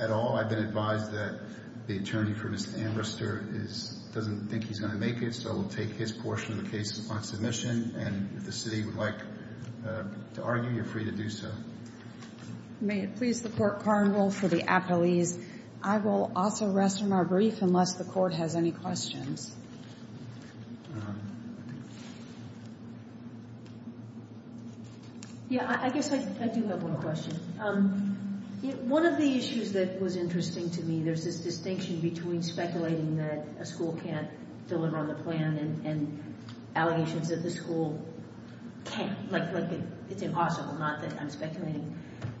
at all. I've been advised that the attorney for Mr. Ambrister doesn't think he's going to make it, so we'll take his portion of the case on submission, and if the city would like to argue, you're free to do so. May it please the Court, Carneville, for the appellees. I will also rest on my brief unless the Court has any questions. Yes, I guess I do have one question. One of the issues that was interesting to me, there's this distinction between speculating that a school can't deliver on the plan and allegations that the school can't, like it's impossible not that I'm speculating.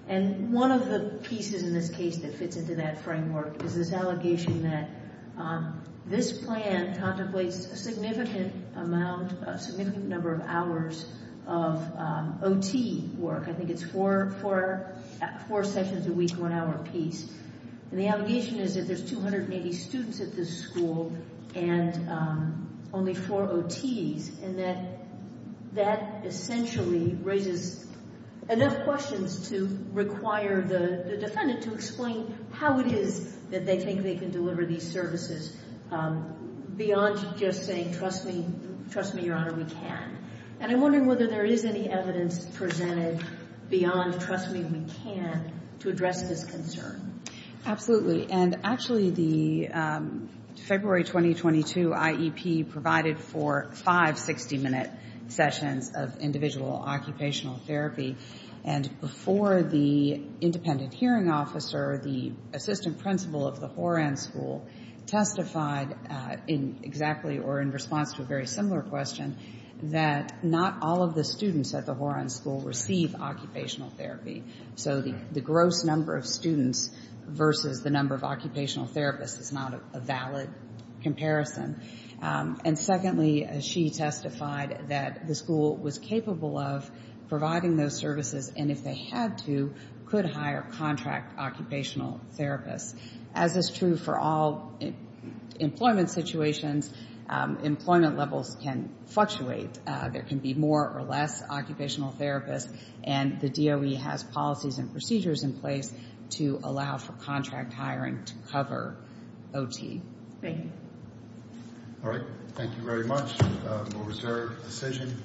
And one of the pieces in this case that fits into that framework is this allegation that this plan contemplates a significant amount, a significant number of hours of OT work. I think it's four sessions a week, one hour apiece. And the allegation is that there's 280 students at this school and only four OTs, and that that essentially raises enough questions to require the defendant to explain how it is that they think they can deliver these services beyond just saying, trust me, trust me, Your Honor, we can. And I'm wondering whether there is any evidence presented beyond trust me, we can to address this concern. Absolutely. And actually, the February 2022 IEP provided for five 60-minute sessions of individual occupational therapy. And before the independent hearing officer, the assistant principal of the Horan School testified in exactly or in response to a very similar question that not all of the students at the Horan School receive occupational therapy. So the gross number of students versus the number of occupational therapists is not a valid comparison. And secondly, she testified that the school was capable of providing those services, and if they had to, could hire contract occupational therapists. As is true for all employment situations, employment levels can fluctuate. There can be more or less occupational therapists, and the DOE has policies and procedures in place to allow for contract hiring to cover OT. Thank you. All right. Thank you very much. We'll reserve the decision.